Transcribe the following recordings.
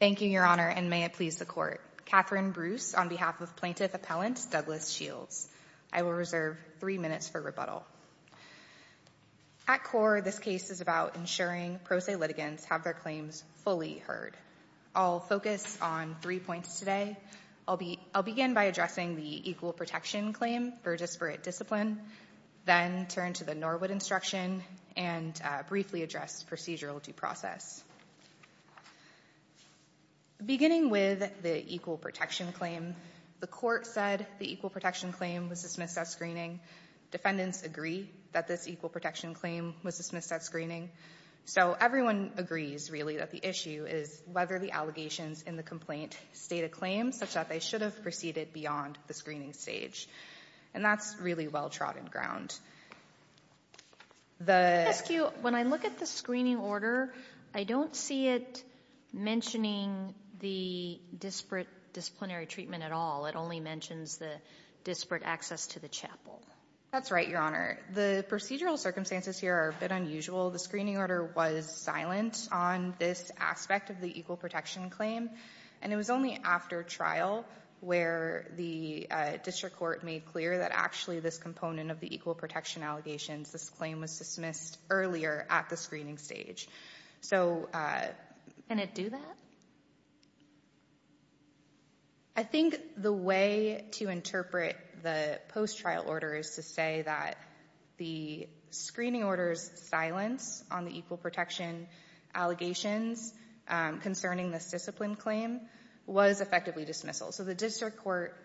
Thank you, your honor, and may it please the court. Katherine Bruce on behalf of plaintiff appellant Douglas Shields. I will reserve three minutes for rebuttal. At core, this case is about ensuring pro se litigants have their claims fully heard. I'll focus on three points today. I'll begin by addressing the equal protection claim for disparate discipline, then turn to the Norwood instruction and briefly address procedural due process. Beginning with the equal protection claim, the court said the equal protection claim was dismissed at screening. Defendants agree that this equal protection claim was dismissed at screening, so everyone agrees really that the issue is whether the allegations in the complaint state a claim such that they should have proceeded beyond the screening stage, and that's really well trodden ground. When I look at the screening order, I don't see it mentioning the disparate disciplinary treatment at all. It only mentions the disparate access to the chapel. That's right, your honor. The procedural circumstances here are a bit unusual. The screening order was silent on this aspect of the equal protection claim, and it was only after trial where the district court made clear that actually this component of the equal protection allegations, this claim was dismissed earlier at the screening stage. So, can it do that? I think the way to interpret the post trial order is to say that the screening orders silence on the discipline claim was effectively dismissal. So the district court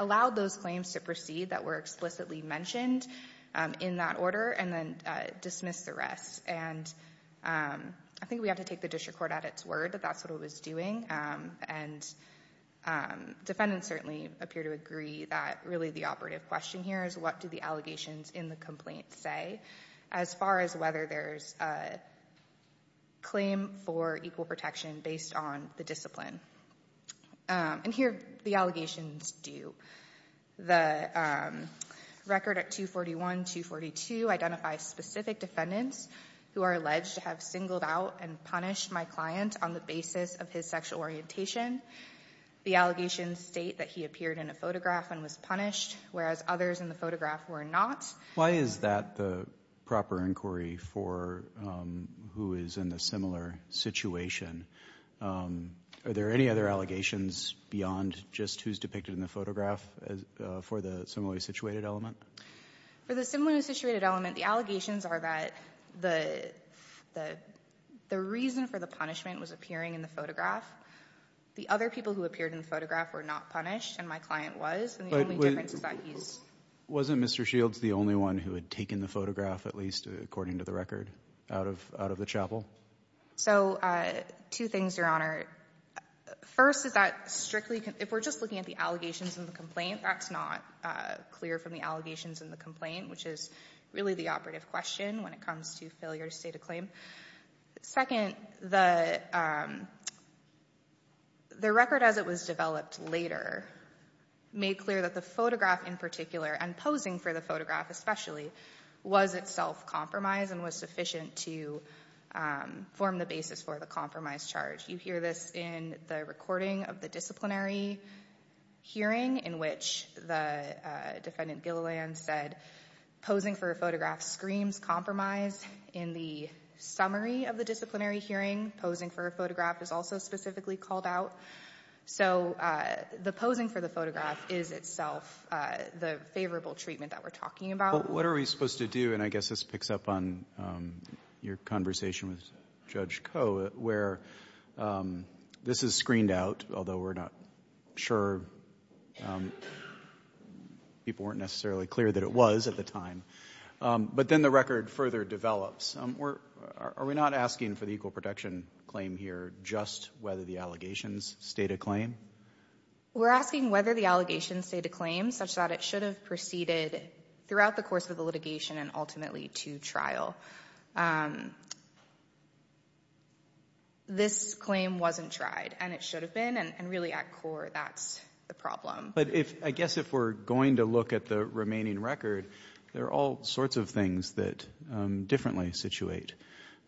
allowed those claims to proceed that were explicitly mentioned in that order, and then dismissed the rest. I think we have to take the district court at its word that that's what it was doing, and defendants certainly appear to agree that really the operative question here is what do the allegations in the complaint say as far as whether there's a claim for equal protection based on the discipline? And here the allegations do. The record at 241, 242 identify specific defendants who are alleged to have singled out and punished my client on the basis of his sexual orientation. The allegations state that he appeared in a photograph and was punished, whereas others in the photograph were not. Why is that the proper inquiry for who is in a similar situation? Are there any other allegations beyond just who's depicted in the photograph for the similarly situated element? For the similarly situated element, the allegations are that the reason for the punishment was appearing in the photograph. The other people who appeared in the Mr. Shields, the only one who had taken the photograph, at least according to the record, out of the chapel? So two things, Your Honor. First, if we're just looking at the allegations in the complaint, that's not clear from the allegations in the complaint, which is really the operative question when it comes to failure to state a claim. Second, the record as it was developed later made clear that the photograph in particular, and posing for the photograph especially, was itself compromised and was sufficient to form the basis for the compromise charge. You hear this in the recording of the disciplinary hearing in which the defendant Gilliland said posing for a photograph screams compromise. In the summary of the disciplinary hearing, posing for a photograph is itself the favorable treatment that we're talking about. But what are we supposed to do, and I guess this picks up on your conversation with Judge Koh, where this is screened out, although we're not sure, people weren't necessarily clear that it was at the time, but then the record further develops. Are we not asking for the equal protection claim here just whether the allegations state a claim? We're asking whether the allegations state a claim such that it should have proceeded throughout the course of the litigation and ultimately to trial. This claim wasn't tried and it should have been, and really at core that's the problem. But if, I guess if we're going to look at the remaining record, there are all sorts of things that differently situate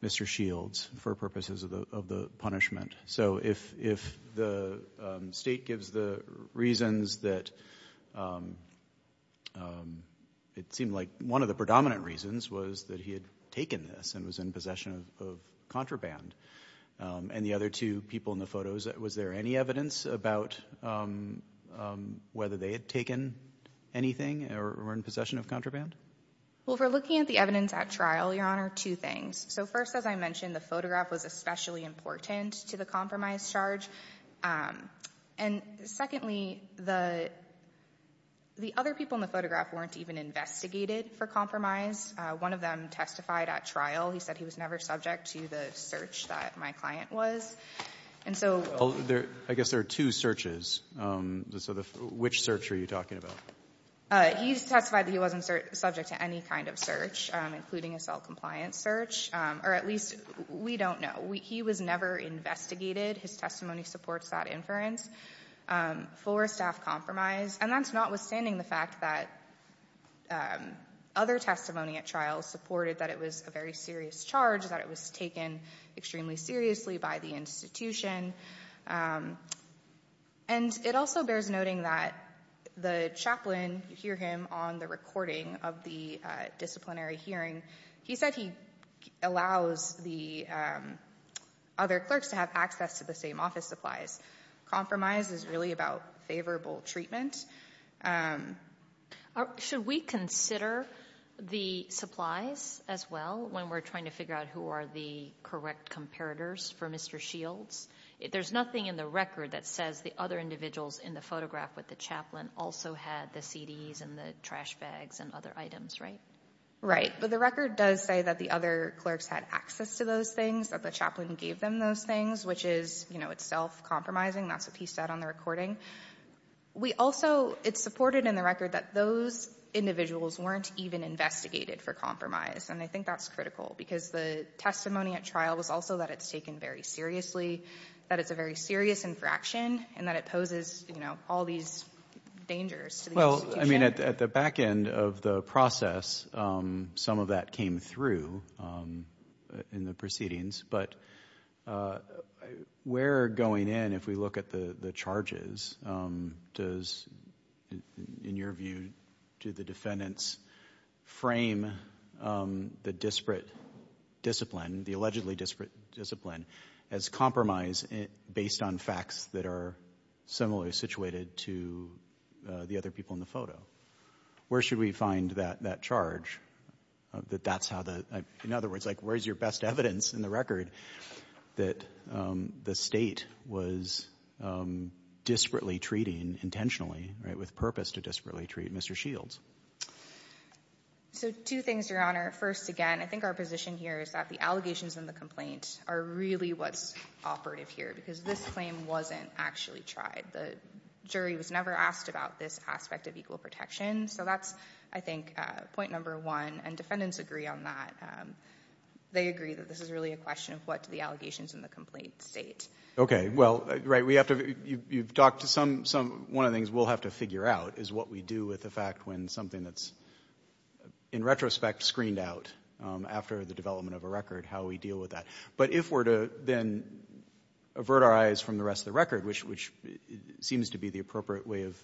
Mr. Shields for purposes of the punishment. So if the state gives the reasons that it seemed like one of the predominant reasons was that he had taken this and was in possession of contraband, and the other two people in the photos, was there any evidence about whether they had taken anything or were in possession of contraband? Well, if we're looking at the evidence at trial, Your Honor, two things. So first, as I mentioned, the photograph was especially important to the compromise charge. And secondly, the other people in the photograph weren't even investigated for compromise. One of them testified at trial. He said he was never subject to the search that my client was. And so we'll go back to that. Well, I guess there are two searches. So which search are you talking about? He testified that he wasn't subject to any kind of search, including a self-compliance search, or at least we don't know. He was never investigated. His testimony supports that inference for staff compromise. And that's notwithstanding the fact that other testimony at trial supported that it was a very serious charge, that it was taken extremely seriously by the institution. And it also is noting that the chaplain, you hear him on the recording of the disciplinary hearing, he said he allows the other clerks to have access to the same office supplies. Compromise is really about favorable treatment. Should we consider the supplies as well when we're trying to figure out who are the correct comparators for Mr. Shields? There's nothing in the record that says the other individuals in the photograph with the chaplain also had the CDs and the trash bags and other items, right? Right. But the record does say that the other clerks had access to those things, that the chaplain gave them those things, which is, you know, it's self-compromising. That's what he said on the recording. It's supported in the record that those individuals weren't even investigated for compromise. And I think that's critical because the testimony at trial was also that it's taken very seriously, that it's a very serious infraction, and that it poses, you know, all these dangers. Well, I mean, at the back end of the process, some of that came through in the proceedings, but where going in, if we look at the the charges, does, in your view, do the defendants frame the disparate discipline, the allegedly disparate discipline, as compromise based on facts that are similarly situated to the other people in the photo? Where should we find that charge, that that's how the — in other words, like, where's your best evidence in the record that the State was disparately treating intentionally, right, with purpose to disparately treat Mr. Shields? So two things, Your Honor. First, again, I think our position here is that the allegations in the complaint are really what's operative here, because this claim wasn't actually tried. The jury was never asked about this aspect of equal protection, so that's, I think, point number one, and defendants agree on that. They agree that this is really a question of what do the allegations in the complaint state. Okay, well, right, we have to — you've talked to some — one of the things we'll have to figure out is what we do with the fact when something that's, in retrospect, screened out after the development of a record, how we deal with that. But if we're to then avert our eyes from the rest of the record, which seems to be the appropriate way of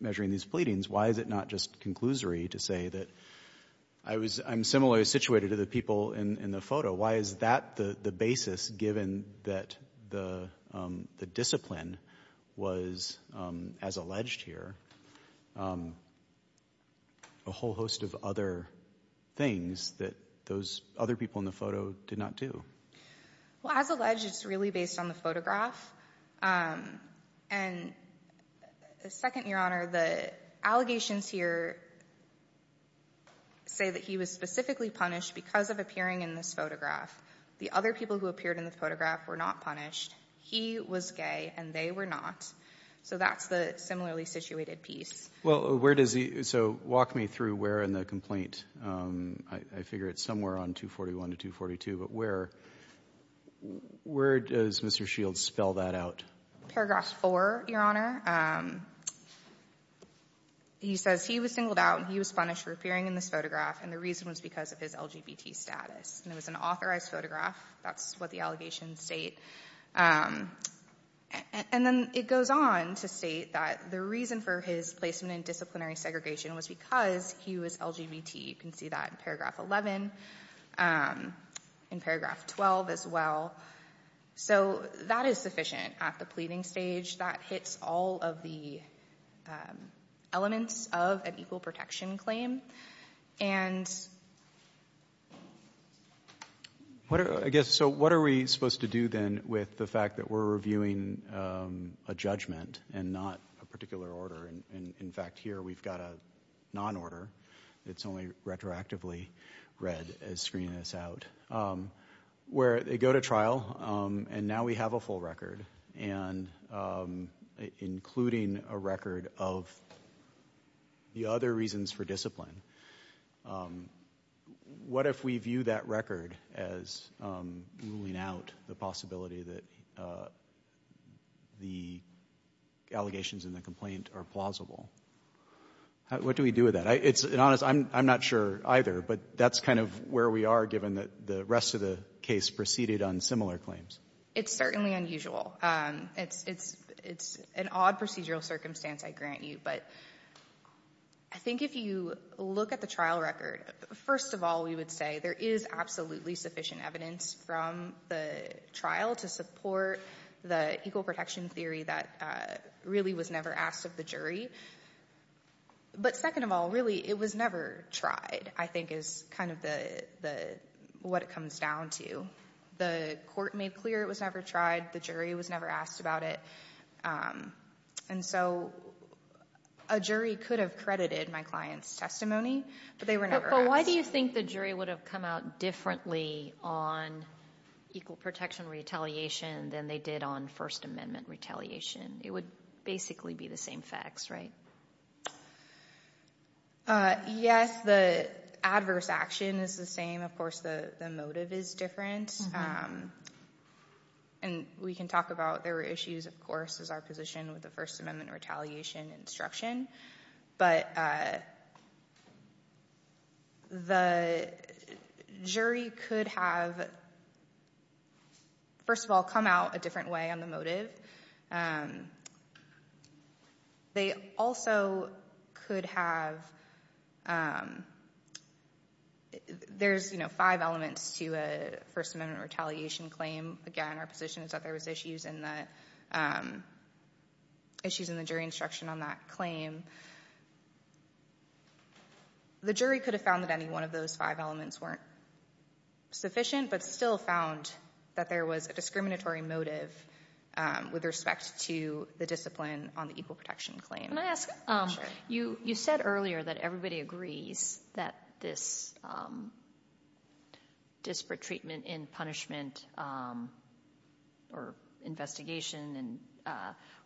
measuring these pleadings, why is it not just conclusory to say that I was — I'm similarly situated to the people in the photo? Why is that the basis, given that the discipline was, as alleged here, a whole host of other things that those other people in the photo did not do? Well, as alleged, it's really based on the photograph, and second, Your Honor, the allegations here say that he was specifically punished because of appearing in this photograph. The other people who appeared in the photograph were not punished. He was gay, and they were not. So that's the similarly situated piece. Well, where does he — so walk me through where in the complaint — I figure it's somewhere on 241 to 242, but where — where does Mr. Shields spell that out? Paragraph 4, Your Honor. He says he was singled out, and he was punished for appearing in this photograph, and the reason was because of his LGBT status. And it was an authorized photograph. That's what the allegations state. And then it goes on to state that the reason for his placement in disciplinary segregation was because he was LGBT. You can see that in paragraph 11, in paragraph 12 as well. So that is sufficient at the pleading stage. That hits all of the elements of an equal protection claim. And, Your Honor, I think — I guess — so what are we supposed to do then with the fact that we're reviewing a judgment and not a particular order? In fact, here we've got a non-order. It's only retroactively read as screening this out. Where they go to trial, and now we have a full record, including a record of the other reasons for discipline. What if we view that as ruling out the possibility that the allegations in the complaint are plausible? What do we do with that? It's an honest — I'm not sure either, but that's kind of where we are, given that the rest of the case proceeded on similar claims. It's certainly unusual. It's an odd procedural circumstance, I grant you. But I think if you look at the trial record, first of all, we would say there is absolutely sufficient evidence from the trial to support the equal protection theory that really was never asked of the jury. But second of all, really, it was never tried, I think, is kind of what it comes down to. The court made clear it was never tried. The jury was never asked about it. And so a jury could have credited my client's testimony, but they were never asked. Why do you think the jury would have come out differently on equal protection retaliation than they did on First Amendment retaliation? It would basically be the same facts, right? Yes, the adverse action is the same. Of course, the motive is different. And we can talk about their issues, of course, as our position with the First Amendment retaliation instruction. The jury could have, first of all, come out a different way on the motive. They also could have, there's five elements to a First Amendment retaliation claim. Again, our position is that there was issues in the jury instruction on that claim. The jury could have found that any one of those five elements weren't sufficient, but still found that there was a discriminatory motive with respect to the discipline on the equal protection claim. Can I ask, you said earlier that everybody agrees that this disparate treatment in punishment or investigation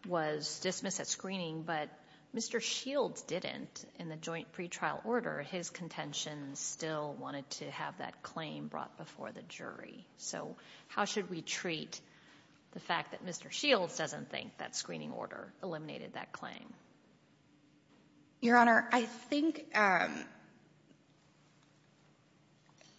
was dismissed at screening, but Mr. Shields didn't in the joint pretrial order, his contention still wanted to have that claim brought before the jury. So how should we treat the fact that Mr. Shields doesn't think that screening order eliminated that claim? Your Honor, I think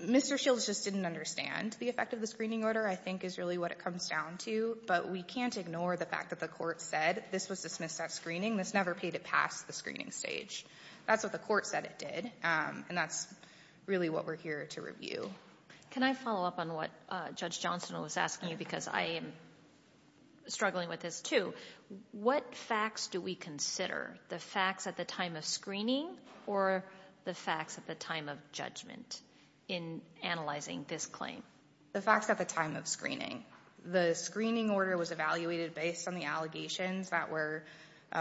Mr. Shields just didn't understand the effect of the screening order I think is really what it comes down to, but we can't ignore the fact that the court said this was dismissed at screening. This never paid it past the screening stage. That's what the court said it did, and that's really what we're here to review. Can I follow up on what Judge Johnston was asking you, because I am struggling with this too. What facts do we consider? The facts at the time of screening or the facts at the time of judgment in analyzing this claim? The facts at the time of screening. The screening order was evaluated based on the allegations that were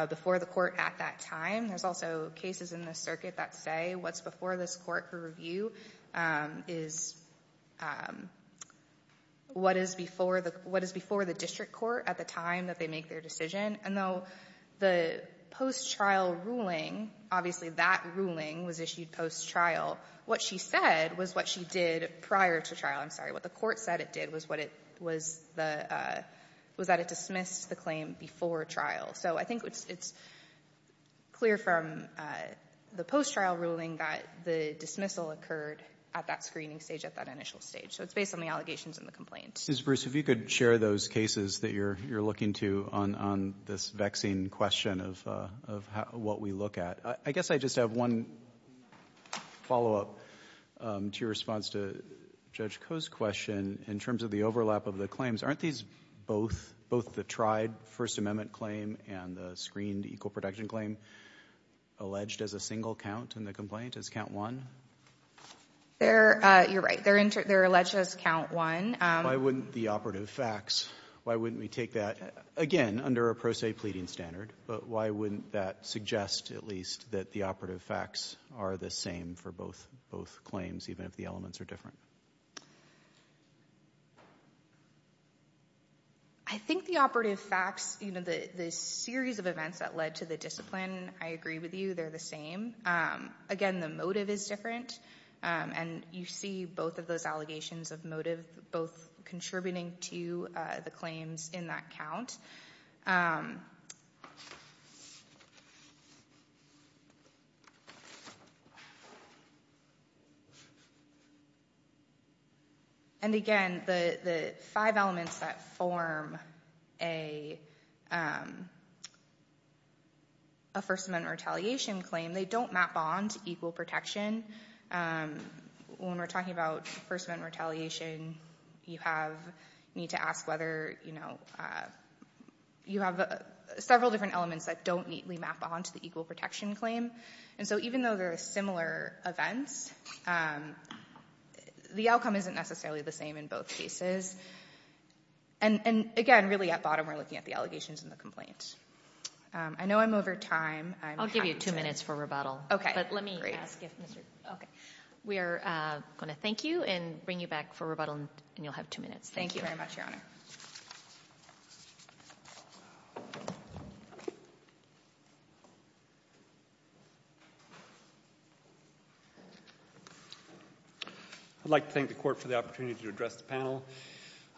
before the court at that time. There's also cases in the circuit that say what's before this court for review is what is before the district court at the time that they make their decision, and though the post-trial ruling, obviously that ruling was issued post-trial, what she said was what she did prior to trial. I'm sorry, what the court said it did was that it dismissed the claim before trial. I think it's clear from the post-trial ruling that the dismissal occurred at that screening stage, at that initial stage. It's based on the allegations and the complaints. Ms. Bruce, if you could share those cases that you're looking to on this vaccine question of what we look at. I guess I just have one follow-up to your response to Judge Koh's question in terms of the overlap of the claims. Aren't these both the tried First Amendment claim and the screened equal protection claim alleged as a single count in the complaint as count one? You're right. They're alleged as count one. Why wouldn't the operative facts, why wouldn't we take that, again, under a pro se pleading standard, but why wouldn't that suggest at least that the operative facts are the same for both claims even if the elements are different? I think the operative facts, the series of events that led to the discipline, I agree with you, they're the same. Again, the motive is different and you see both of those allegations of motive both contributing to the claims in that count. Again, the five elements that form a First Amendment retaliation claim, they don't map on to equal protection. When we're talking about First Amendment retaliation, you need to ask whether, you know, you have several different elements that don't neatly map on to the equal protection claim. And so even though there are similar events, the outcome isn't necessarily the same in both cases. And again, really at bottom we're looking at the allegations and the complaints. I know I'm over time. I'll give you two minutes for rebuttal, but let me ask if, okay. We are going to thank you and bring you back for rebuttal and you'll have two minutes. Thank you. I'd like to thank the Court for the opportunity to address the panel.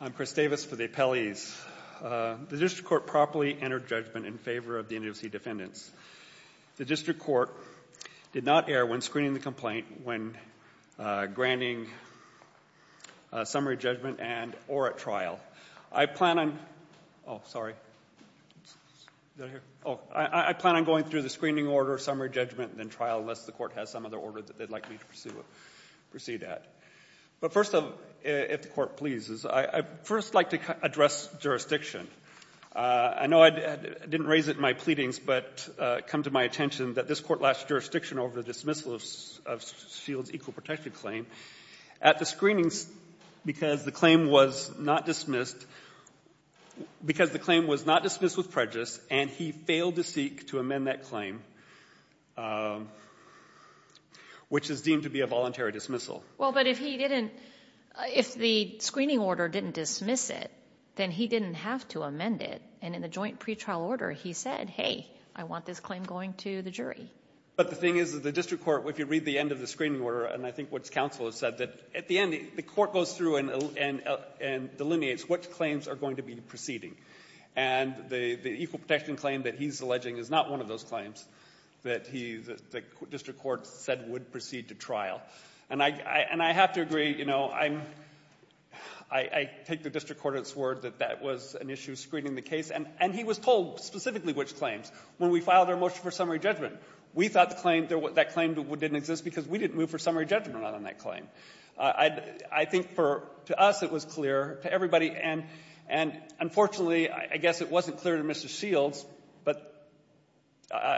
I'm Chris Davis for the appellees. The District Court properly entered judgment in favor of the NAACP defendants. The District Court did not err when screening the complaint, when granting summary judgment and or at trial. I plan on, oh, sorry. Is that here? Oh, I plan on going through the screening order, summary judgment, and then trial unless the Court has some other order that they'd like me to proceed at. But first, if the Court pleases, I'd first like to address jurisdiction. I know I didn't raise it in my pleadings, but it come to my attention that this Court lost jurisdiction over the dismissal of Shields' equal protection claim at the screenings because the claim was not dismissed, because the claim was not dismissed with prejudice and he failed to seek to amend that claim, which is deemed to be a voluntary dismissal. Well, but if he didn't, if the screening order didn't dismiss it, then he didn't have to amend it. And in the joint pretrial order, he said, hey, I want this claim going to the But the thing is that the District Court, if you read the end of the screening order, and I think what counsel has said, that at the end, the Court goes through and delineates which claims are going to be proceeding. And the equal protection claim that he's alleging is not one of those claims that he, the District Court said would proceed to trial. And I have to agree, you know, I'm, I take the District Court at its word that that was an issue screening the case. And he was told specifically which claims. When we filed our motion for summary judgment, we thought the claim, that claim didn't exist because we didn't move for summary judgment on that claim. I think for, to us it was clear, to everybody, and unfortunately, I guess it wasn't clear to Mr. Shields, but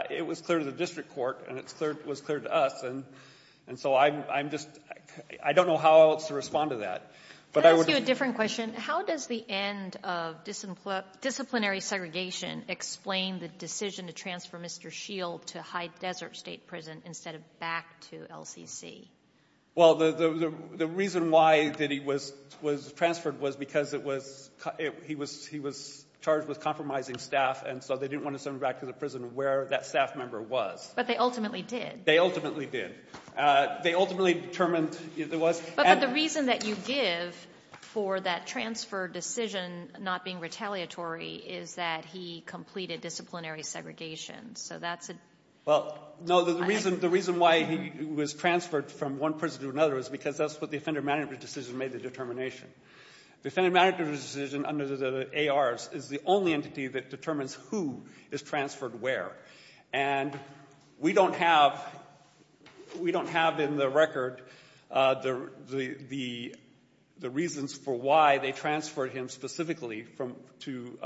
it was clear to the District Court, and it was clear to us. And so I'm just, I don't know how else to respond to that. Can I ask you a different question? How does the end of disciplinary segregation explain the decision to transfer Mr. Shield to High Desert State Prison instead of back to LCC? Well, the reason why that he was transferred was because it was, he was charged with compromising staff, and so they didn't want to send him back to the prison where that staff member was. But they ultimately did. They ultimately did. They ultimately determined it was, and But the reason that you give for that transfer decision not being retaliatory is that he completed disciplinary segregation. So that's a Well, no, the reason why he was transferred from one prison to another is because that's what the offender management decision made the determination. The offender management decision under the ARs is the only entity that determines who is transferred where. And we don't have, we don't have in the record the reasons for why they transferred him specifically from to,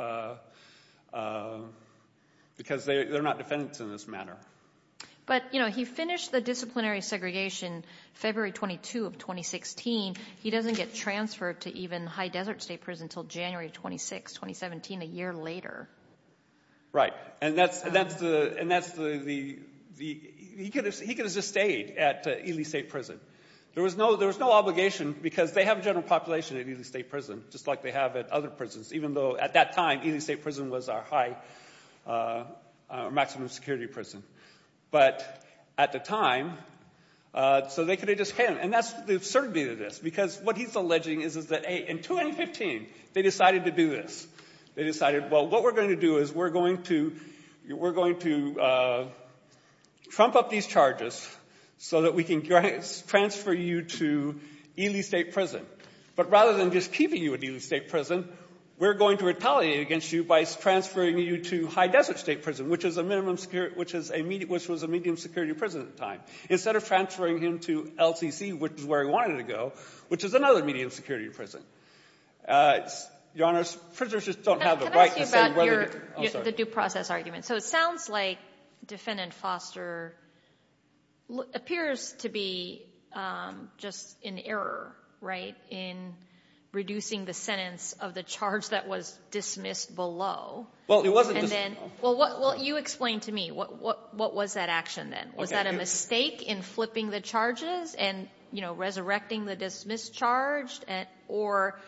because they're not defendants in this matter. But you know, he finished the disciplinary segregation February 22 of 2016. He doesn't get transferred to even High Desert State Prison until January 26, 2017, a year later. Right. And that's the, he could have just stayed at Ely State Prison. There was no obligation because they have a general population at Ely State Prison, just like they have at other prisons, even though at that time, Ely State Prison was our high, maximum security prison. But at the time, so they could have just, and that's the absurdity of this, because what he's alleging is that in 2015, they decided to do this. They decided, well, what we're going to do is we're going to, we're going to trump up these charges so that we can transfer you to Ely State Prison. But rather than just keeping you at Ely State Prison, we're going to retaliate against you by transferring you to High Desert State Prison, which is a minimum security, which is a medium, which was a medium security prison at the time, instead of transferring him to LCC, which is where he wanted to go, which is another medium security prison. Your Honor, prisoners just don't have the right to say whether they're, I'm sorry. So it sounds like Defendant Foster appears to be just in error, right, in reducing the sentence of the charge that was dismissed below. Well, it wasn't dismissed. Well, you explain to me. What was that action then? Was that a mistake in flipping the charges and, you know, resurrecting the dismissed charge, or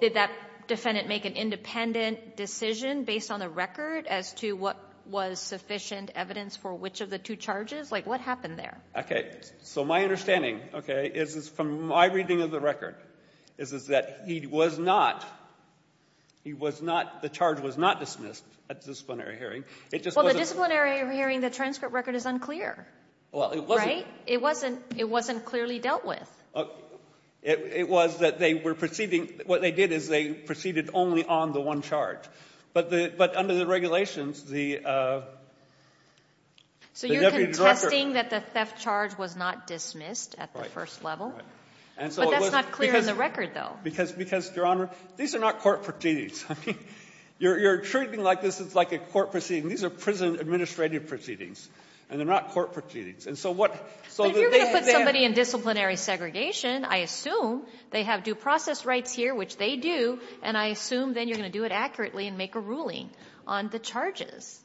did that defendant make an independent decision based on the record as to what was sufficient evidence for which of the two charges? Like, what happened there? Okay. So my understanding, okay, is from my reading of the record, is that he was not, he was not, the charge was not dismissed at the disciplinary hearing. It just wasn't Well, the disciplinary hearing, the transcript record is unclear, right? It wasn't clearly dealt with. It was that they were proceeding, what they did is they proceeded only on the one charge. But under the regulations, the Deputy Director So you're contesting that the theft charge was not dismissed at the first level? But that's not clear in the record, though. Because Your Honor, these are not court proceedings. I mean, you're treating like this is like a court proceeding. These are prison administrative proceedings, and they're not court proceedings. And so what But if you're going to put somebody in disciplinary segregation, I assume they have due process rights here, which they do, and I assume then you're going to do it accurately and make a ruling on the charges.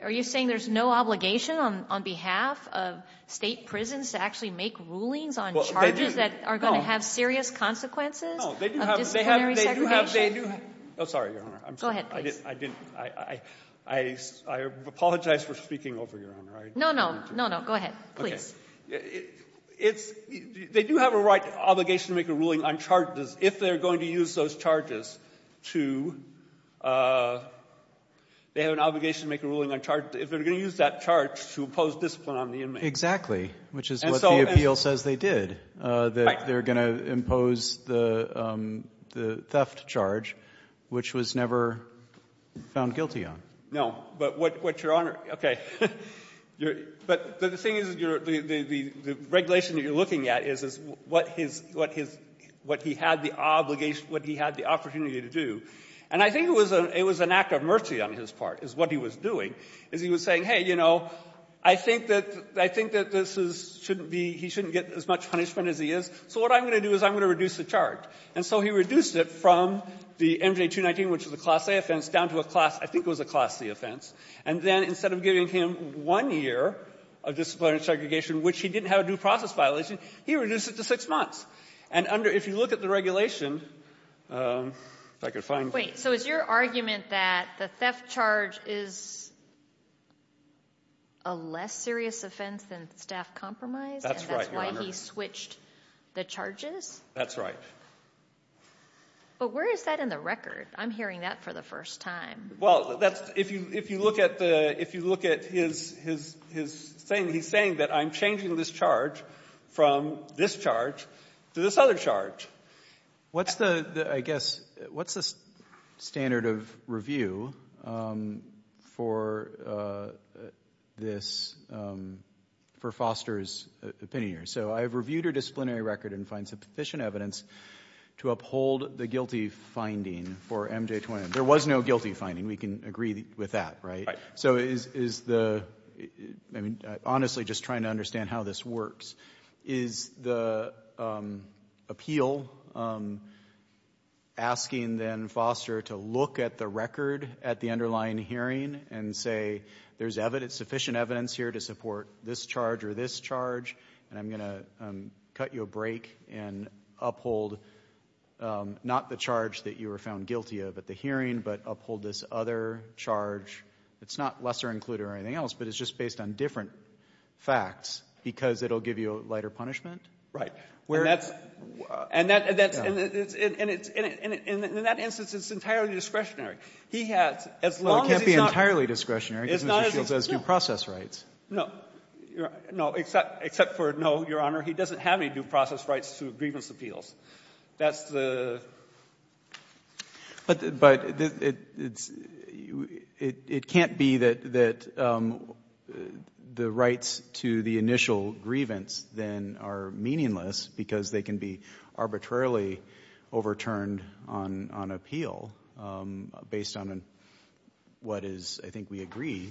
Are you saying there's no obligation on behalf of State prisons to actually make rulings on charges that are going to have serious consequences of disciplinary segregation? No. They do have, they do have, they do have, oh, sorry, Your Honor. Go ahead, please. I didn't, I, I, I apologize for speaking over, Your Honor. I didn't mean to. No, no, go ahead, please. Okay. It's, they do have a right, obligation to make a ruling on charges if they're going to use those charges to, they have an obligation to make a ruling on charges if they're going to use that charge to impose discipline on the inmate. Exactly, which is what the appeal says they did, that they're going to impose the, the theft charge, which was never found guilty on. No, but what, what, Your Honor, okay, you're, but the thing is, you're, the, the, the regulation that you're looking at is, is what his, what his, what he had the obligation, what he had the opportunity to do. And I think it was a, it was an act of mercy on his part, is what he was doing, is he was saying, hey, you know, I think that, I think that this is, shouldn't be, he shouldn't get as much punishment as he is, so what I'm going to do is I'm going to reduce the charge. And so he reduced it from the MJ 219, which is a class A offense, down to a class, I think it was a class C offense. And then instead of giving him one year of disciplinary segregation, which he didn't have a due process violation, he reduced it to six months. And under, if you look at the regulation, if I could find it. So is your argument that the theft charge is a less serious offense than the staff compromise? That's right, Your Honor. And that's why he switched the charges? That's right. But where is that in the record? I'm hearing that for the first time. Well, that's, if you, if you look at the, if you look at his, his, his saying, he's saying that I'm changing this charge from this charge to this other charge. What's the, I guess, what's the standard of review for this, for Foster's opinion? So I've reviewed her disciplinary record and find sufficient evidence to uphold the guilty finding for MJ 219. There was no guilty finding. We can agree with that, right? So is, is the, I mean, honestly, just trying to understand how this works. Is the appeal asking, then, Foster to look at the record at the underlying hearing and say, there's evidence, sufficient evidence here to support this charge or this charge, and I'm going to cut you a break and uphold, not the charge that you were found guilty of at the hearing, but uphold this other charge that's not lesser included or anything else, but it's just based on different facts because it'll give you a lighter punishment? And that's, and that's, and it's, in that instance, it's entirely discretionary. He has, as long as he's not. Well, it can't be entirely discretionary because Mr. Shields has due process rights. No. No, except, except for no, Your Honor. He doesn't have any due process rights to grievance appeals. That's the. But, but it's, it, it can't be that, that the rights to the initial grievance, then, are meaningless because they can be arbitrarily overturned on, on appeal based on what is, I think we agree,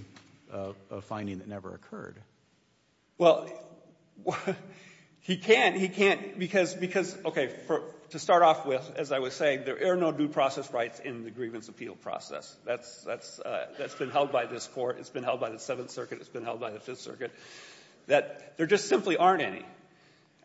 a finding that never occurred. Well, he can't, he can't because, because, okay, for, to start off with, as I was saying, there are no due process rights in the grievance appeal process. That's, that's, that's been held by this Court. It's been held by the Seventh Circuit. It's been held by the Fifth Circuit. That there just simply aren't any.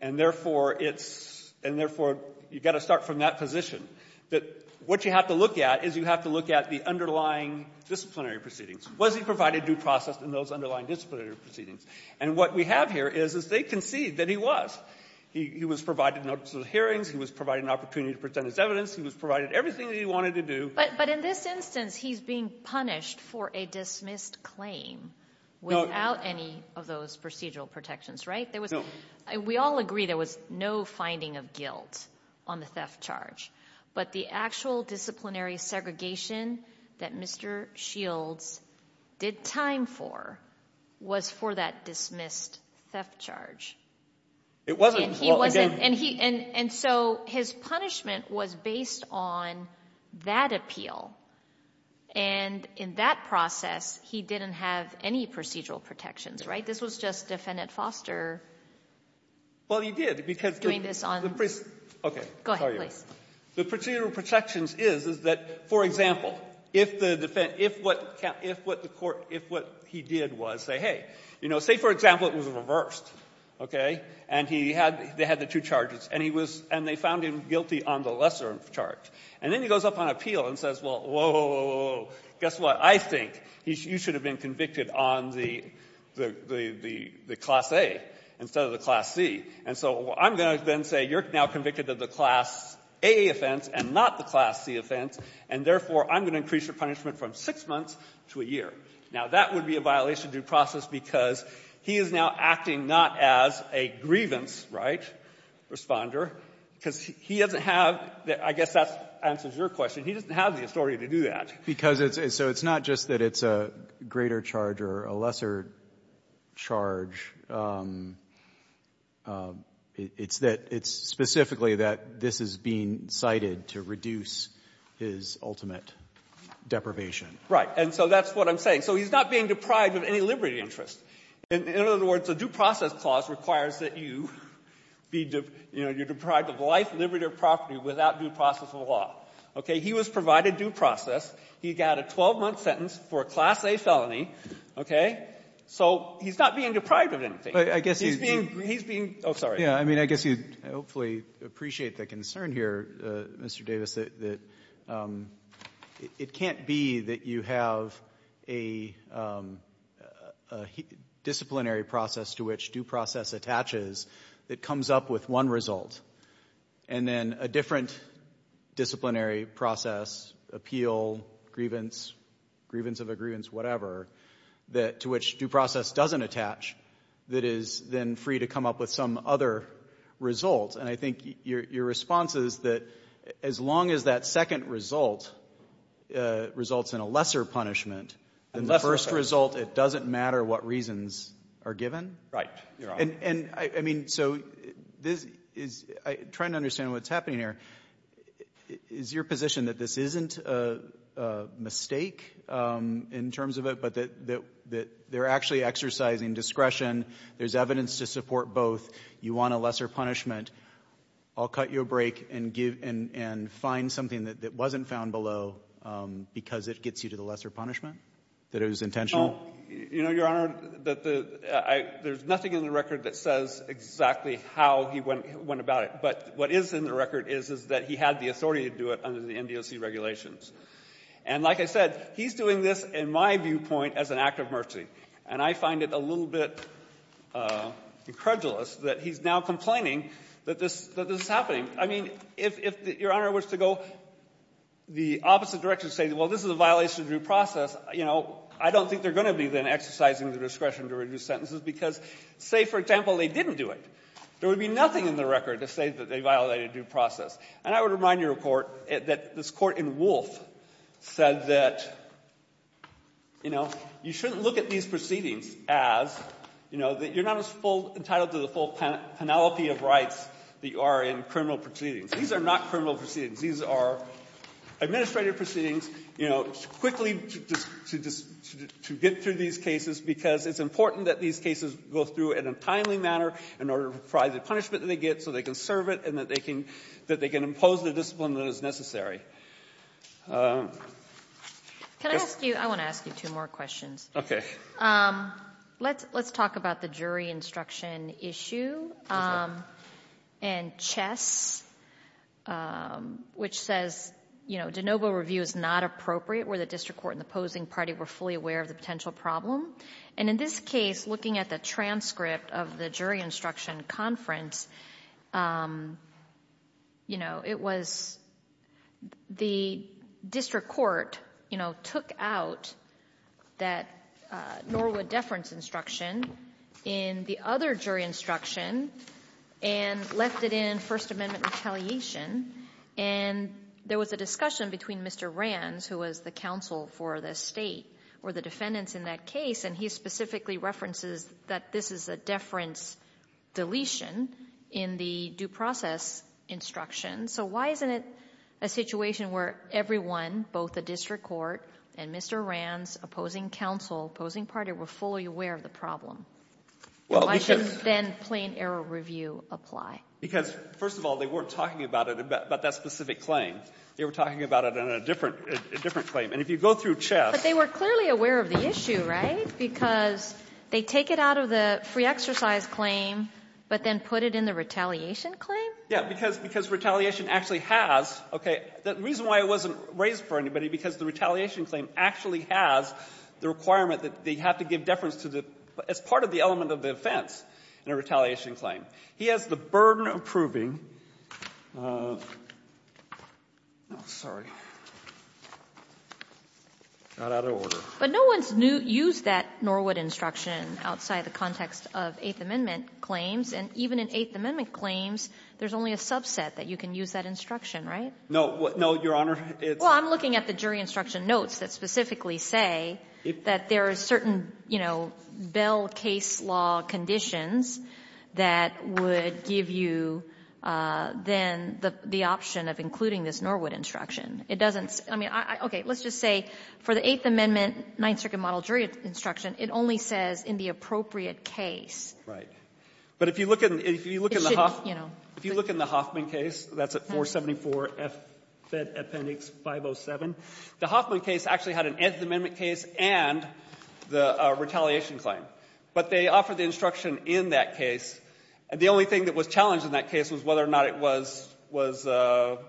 And therefore, it's, and therefore, you've got to start from that position. That what you have to look at is you have to look at the underlying disciplinary proceedings. Was he provided due process in those underlying disciplinary proceedings? And what we have here is, is they concede that he was. He, he was provided notice of hearings. He was provided an opportunity to present his evidence. He was provided everything that he wanted to do. But, but in this instance, he's being punished for a dismissed claim. No. Without any of those procedural protections, right? No. We all agree there was no finding of guilt on the theft charge. But the actual disciplinary segregation that Mr. Shields did time for was for that dismissed theft charge. It wasn't. He wasn't. And he, and, and so his punishment was based on that appeal. And in that process, he didn't have any procedural protections, right? This was just Defendant Foster. Well, he did. Doing this on. Okay. Go ahead, please. The procedural protections is, is that, for example, if the defense, if what, if what the court, if what he did was say, hey, you know, say, for example, it was reversed, okay? And he had, they had the two charges. And he was, and they found him guilty on the lesser charge. And then he goes up on appeal and says, well, whoa, whoa, whoa, guess what? I think you should have been convicted on the, the, the, the Class A instead of the Class C. And so I'm going to then say you're now convicted of the Class A offense and not the Class C offense. And therefore, I'm going to increase your punishment from six months to a year. Now, that would be a violation of due process because he is now acting not as a grievance, right, Responder, because he doesn't have, I guess that answers your question. He doesn't have the authority to do that. Because it's, so it's not just that it's a greater charge or a lesser charge. It's that, it's specifically that this is being cited to reduce his ultimate deprivation. Right. And so that's what I'm saying. So he's not being deprived of any liberty interest. In other words, the due process clause requires that you be, you know, you're deprived of life, liberty, or property without due process of law. Okay. He was provided due process. He got a 12-month sentence for a Class A felony. Okay. So he's not being deprived of anything. He's being, he's being, oh, sorry. I mean, I guess you'd hopefully appreciate the concern here, Mr. Davis, that it can't be that you have a disciplinary process to which due process attaches that comes up with one result. And then a different disciplinary process, appeal, grievance, grievance of a grievance, whatever, that, to which due process doesn't attach, that is then free to come up with some other result. And I think your response is that as long as that second result results in a lesser punishment, then the first result, it doesn't matter what reasons are given? Right. You're right. And, I mean, so this is, I'm trying to understand what's happening here. Is your position that this isn't a mistake in terms of it, but that they're actually exercising discretion? There's evidence to support both. You want a lesser punishment. I'll cut you a break and give, and find something that wasn't found below because it gets you to the lesser punishment, that it was intentional? You know, Your Honor, there's nothing in the record that says exactly how he went about it. But what is in the record is that he had the authority to do it under the NDOC regulations. And like I said, he's doing this in my viewpoint as an act of mercy. And I find it a little bit incredulous that he's now complaining that this is happening. I mean, if Your Honor was to go the opposite direction, say, well, this is a violation of due process, you know, I don't think they're going to be then exercising the discretion to reduce sentences because, say, for example, they didn't do it. There would be nothing in the record to say that they violated due process. And I would remind your Court that this Court in Wolf said that, you know, you shouldn't look at these proceedings as, you know, that you're not as full entitled to the full penalty of rights that you are in criminal proceedings. These are not criminal proceedings. These are administrative proceedings, you know, quickly to get through these cases because it's important that these cases go through in a timely manner in order to provide the punishment that they get so they can serve it and that they can impose the discipline that is necessary. Can I ask you? I want to ask you two more questions. Okay. Let's talk about the jury instruction issue and Chess, which says, you know, de novo review is not appropriate where the district court and the opposing party were fully aware of the potential problem. And in this case, looking at the transcript of the jury instruction conference, you know, it was the district court, you know, took out that Norwood deference instruction in the other jury instruction and left it in First Amendment retaliation. And there was a discussion between Mr. Rands, who was the counsel for the State or the defendants in that case, and he specifically references that this is a deference deletion in the due process instruction. So why isn't it a situation where everyone, both the district court and Mr. Rands, opposing counsel, opposing party, were fully aware of the problem? Why shouldn't then plain error review apply? Because, first of all, they weren't talking about it in that specific claim. They were talking about it in a different claim. And if you go through Chess — But they were clearly aware of the issue, right? Because they take it out of the free exercise claim, but then put it in the retaliation claim? Yeah. Because retaliation actually has — okay. The reason why it wasn't raised for anybody, because the retaliation claim actually has the requirement that they have to give deference to the — as part of the element of the offense in a retaliation claim. He has the burden of proving — oh, sorry. Got out of order. But no one's used that Norwood instruction outside the context of Eighth Amendment claims, and even in Eighth Amendment claims, there's only a subset that you can use that instruction, right? No. No, Your Honor. Well, I'm looking at the jury instruction notes that specifically say that there are certain, you know, bell case law conditions that would give you then the option of including this Norwood instruction. It doesn't — I mean, okay. Let's just say for the Eighth Amendment Ninth Circuit model jury instruction, it only says in the appropriate case. Right. But if you look in the Hoffman case, that's at 474-F, Fed Appendix 507, the Hoffman case actually had an Eighth Amendment case and the retaliation claim. But they offered the instruction in that case, and the only thing that was challenged in that case was whether or not it was — the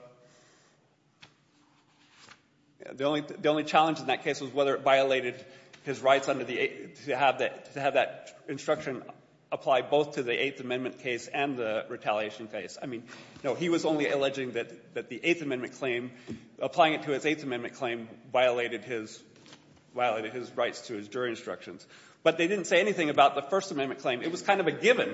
only challenge in that case was whether it violated his rights under the — to have that instruction apply both to the Eighth Amendment case and the retaliation case. I mean, no, he was only alleging that the Eighth Amendment claim, applying it to his Eighth Amendment claim, violated his — violated his rights to his jury instructions. But they didn't say anything about the First Amendment claim. It was kind of a given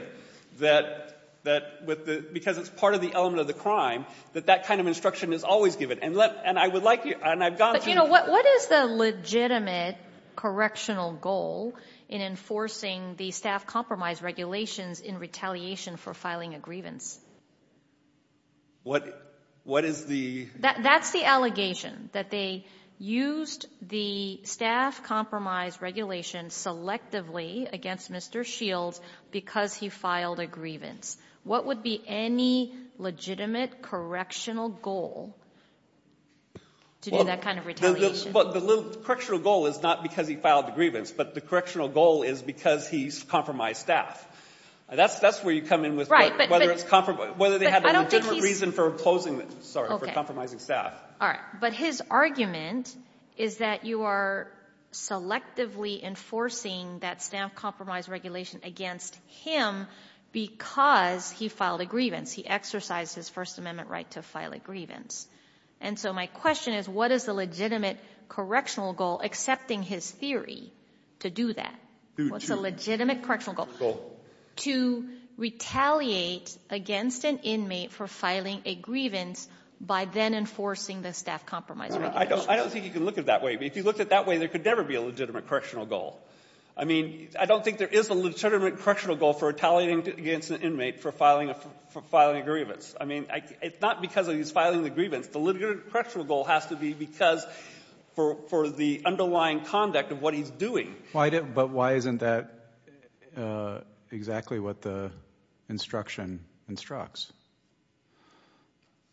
that — that with the — because it's part of the element of the crime, that that kind of instruction is always given. And let — and I would like you — and I've gone to — But, you know, what is the legitimate correctional goal in enforcing the staff compromise regulations in retaliation for filing a grievance? What — what is the — That's the allegation, that they used the staff compromise regulation selectively against Mr. Shields because he filed a grievance. What would be any legitimate correctional goal to do that kind of retaliation? Well, the little — the correctional goal is not because he filed a grievance, but the correctional goal is because he's compromised staff. That's — that's where you come in with whether it's — Whether they had a legitimate reason for imposing — Sorry, for compromising staff. All right. But his argument is that you are selectively enforcing that staff compromise regulation against him because he filed a grievance. He exercised his First Amendment right to file a grievance. And so my question is, what is the legitimate correctional goal accepting his theory to do that? What's the legitimate correctional goal? Goal. To retaliate against an inmate for filing a grievance by then enforcing the staff compromise regulation. I don't think you can look at it that way. If you looked at it that way, there could never be a legitimate correctional goal. I mean, I don't think there is a legitimate correctional goal for retaliating against an inmate for filing a grievance. I mean, it's not because he's filing the grievance. The legitimate correctional goal has to be because for the underlying conduct of what he's doing. But why isn't that exactly what the instruction instructs?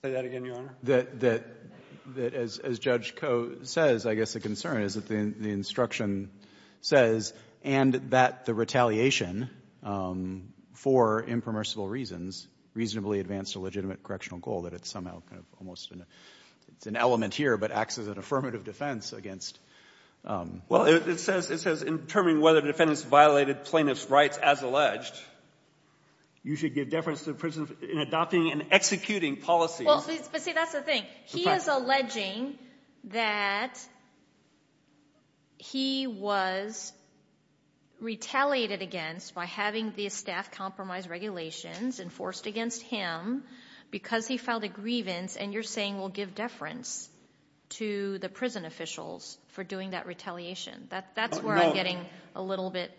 Say that again, Your Honor? That as Judge Koh says, I guess the concern is that the instruction says, and that the retaliation for impermissible reasons reasonably advanced a legitimate correctional goal, that it's somehow kind of almost an element here, but acts as an affirmative defense against — Well, it says in determining whether defendants violated plaintiff's rights as alleged, you should give deference to the prison in adopting and executing policies. But see, that's the thing. He is alleging that he was retaliated against by having the staff compromise regulations enforced against him because he filed a grievance, and you're saying we'll give deference to the prison officials for doing that retaliation. That's where I'm getting a little bit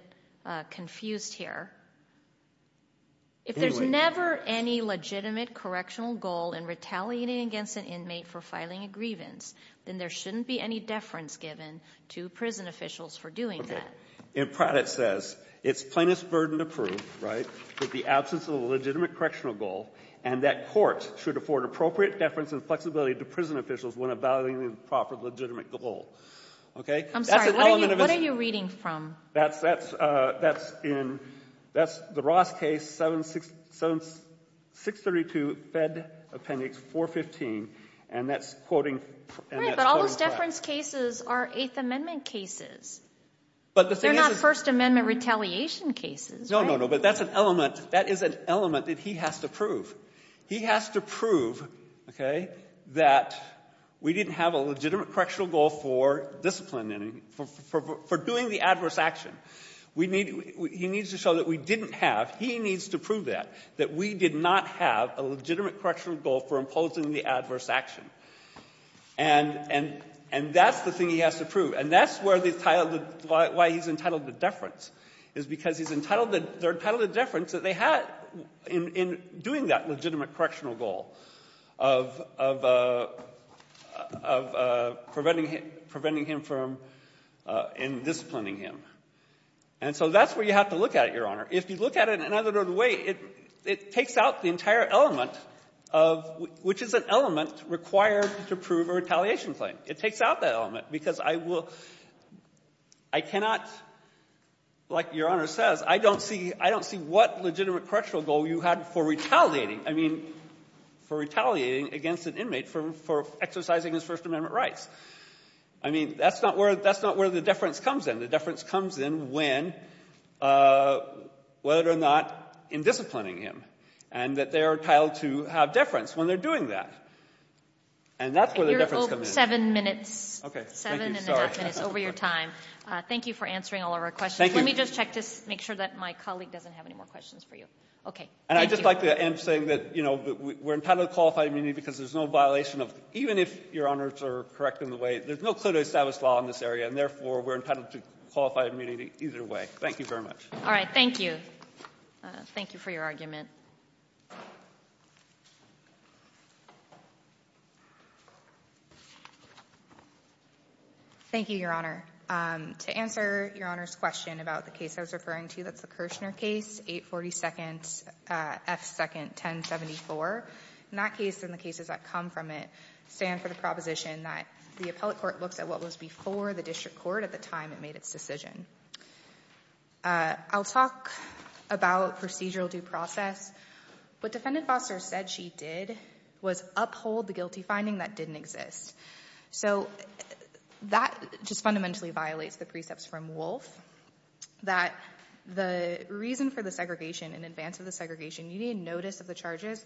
confused here. If there's never any legitimate correctional goal in retaliating against an inmate for filing a grievance, then there shouldn't be any deference given to prison officials for doing that. Okay. In Pratt, it says it's plaintiff's burden to prove, right, that the absence of a legitimate correctional goal and that courts should afford appropriate deference and flexibility to prison officials when evaluating the proper legitimate goal. Okay? I'm sorry. What are you reading from? That's in the Ross case, 632 Fed Appendix 415, and that's quoting Pratt. Right. But all those deference cases are Eighth Amendment cases. But the thing is that they're not First Amendment retaliation cases, right? No, no, no. But that's an element. That is an element that he has to prove. He has to prove, okay, that we didn't have a legitimate correctional goal for discipline and for doing the adverse action. We need to show that we didn't have. He needs to prove that, that we did not have a legitimate correctional goal for imposing the adverse action. And that's the thing he has to prove. And that's why he's entitled to deference, is because they're entitled to deference that they had in doing that legitimate correctional goal of preventing him from disciplining him. And so that's where you have to look at it, Your Honor. If you look at it in another way, it takes out the entire element of which is an element required to prove a retaliation claim. It takes out that element because I cannot, like Your Honor says, I don't see what legitimate correctional goal you had for retaliating. I mean, for retaliating against an inmate for exercising his First Amendment rights. I mean, that's not where the deference comes in. The deference comes in when, whether or not in disciplining him. And that they are entitled to have deference when they're doing that. And that's where the deference comes in. You're over seven minutes. Okay. Thank you. Sorry. Seven and a half minutes over your time. Thank you for answering all of our questions. Thank you. Let me just check to make sure that my colleague doesn't have any more questions for you. Okay. Thank you. And I'd just like to end saying that, you know, we're entitled to qualified immunity because there's no violation of the law. Even if Your Honors are correct in the way, there's no clear-to-establish law in this area. And therefore, we're entitled to qualified immunity either way. Thank you very much. All right. Thank you. Thank you for your argument. Thank you, Your Honor. To answer Your Honor's question about the case I was referring to, that's the Kirshner case, 842nd F. 2nd 1074. In that case, and the cases that come from it, stand for the proposition that the appellate court looks at what was before the district court at the time it made its decision. I'll talk about procedural due process. What Defendant Foster said she did was uphold the guilty finding that didn't exist. So that just fundamentally violates the precepts from Wolf, that the reason for the segregation in advance of the segregation, you need notice of the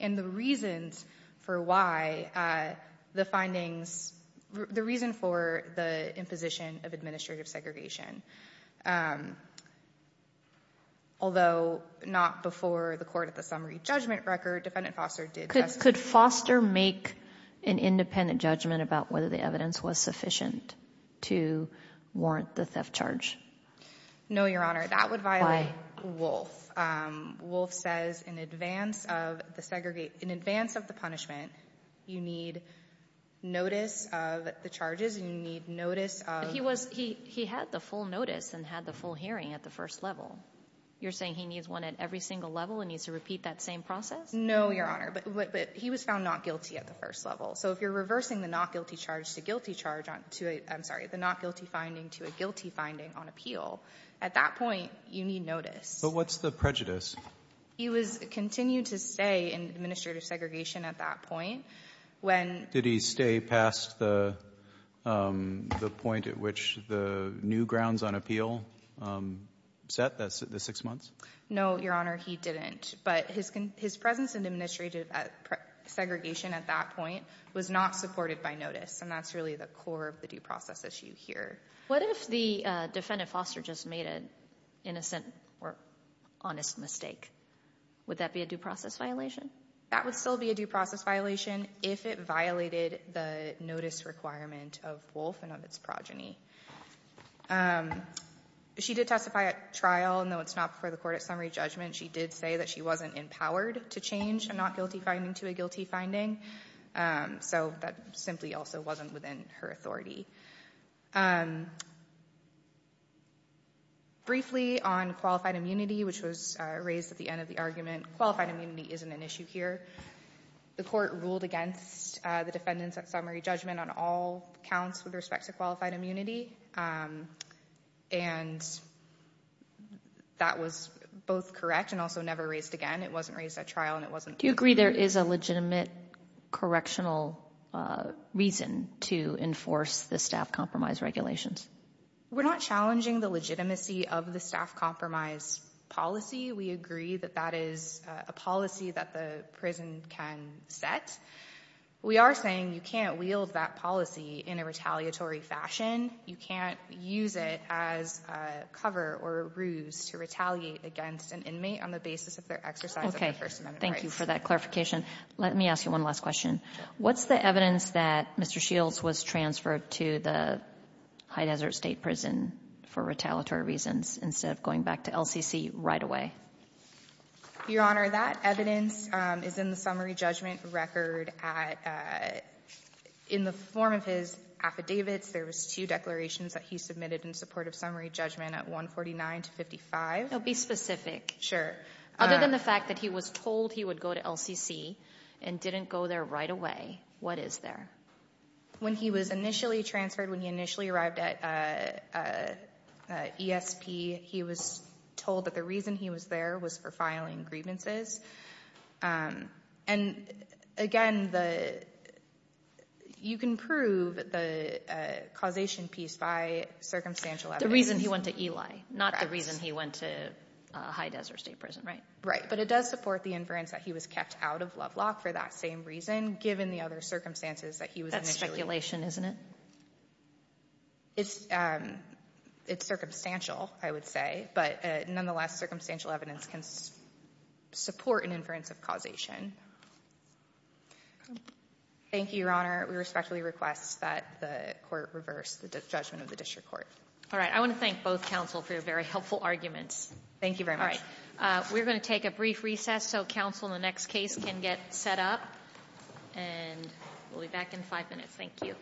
And the reasons for why the findings, the reason for the imposition of administrative segregation, although not before the court at the summary judgment record, Defendant Foster did just that. Could Foster make an independent judgment about whether the evidence was sufficient to warrant the theft charge? No, Your Honor. That would violate Wolf. Wolf says in advance of the segregation, in advance of the punishment, you need notice of the charges, you need notice of But he was, he had the full notice and had the full hearing at the first level. You're saying he needs one at every single level and needs to repeat that same process? No, Your Honor. But he was found not guilty at the first level. So if you're reversing the not guilty charge to guilty charge to a, I'm sorry, the not guilty finding to a guilty finding on appeal, at that point, you need notice. But what's the prejudice? He was continued to stay in administrative segregation at that point. When Did he stay past the point at which the new grounds on appeal set, the six months? No, Your Honor. He didn't. But his presence in administrative segregation at that point was not supported by notice. And that's really the core of the due process issue here. What if the defendant Foster just made an innocent or honest mistake? Would that be a due process violation? That would still be a due process violation if it violated the notice requirement of Wolf and of its progeny. She did testify at trial. And though it's not before the court at summary judgment, she did say that she wasn't empowered to change a not guilty finding to a guilty finding. So that simply also wasn't within her authority. Briefly, on qualified immunity, which was raised at the end of the argument, qualified immunity isn't an issue here. The court ruled against the defendant's at summary judgment on all counts with respect to qualified immunity. And that was both correct and also never raised again. It wasn't raised at trial and it wasn't Do you agree there is a legitimate correctional reason to enforce the staff compromise regulations? We're not challenging the legitimacy of the staff compromise policy. We agree that that is a policy that the prison can set. We are saying you can't wield that policy in a retaliatory fashion. You can't use it as a cover or a ruse to retaliate against an inmate on the basis of their exercise of their First Amendment rights. Thank you for that clarification. Let me ask you one last question. What's the evidence that Mr. Shields was transferred to the High Desert State Prison for retaliatory reasons instead of going back to LCC right away? Your Honor, that evidence is in the summary judgment record at the form of his affidavits. There were two declarations that he submitted in support of summary judgment at 149 to 55. Now, be specific. Sure. Other than the fact that he was told he would go to LCC and didn't go there right away, what is there? When he was initially transferred, when he initially arrived at ESP, he was told that the reason he was there was for filing grievances. And, again, you can prove the causation piece by circumstantial evidence. The reason he went to Eli, not the reason he went to High Desert State Prison, right? Right. But it does support the inference that he was kept out of Lovelock for that same reason, given the other circumstances that he was initially in. That's speculation, isn't it? It's circumstantial, I would say. But, nonetheless, circumstantial evidence can support an inference of causation. Thank you, Your Honor. We respectfully request that the Court reverse the judgment of the district court. All right. I want to thank both counsel for your very helpful arguments. Thank you very much. We're going to take a brief recess so counsel in the next case can get set up. And we'll be back in five minutes. Thank you.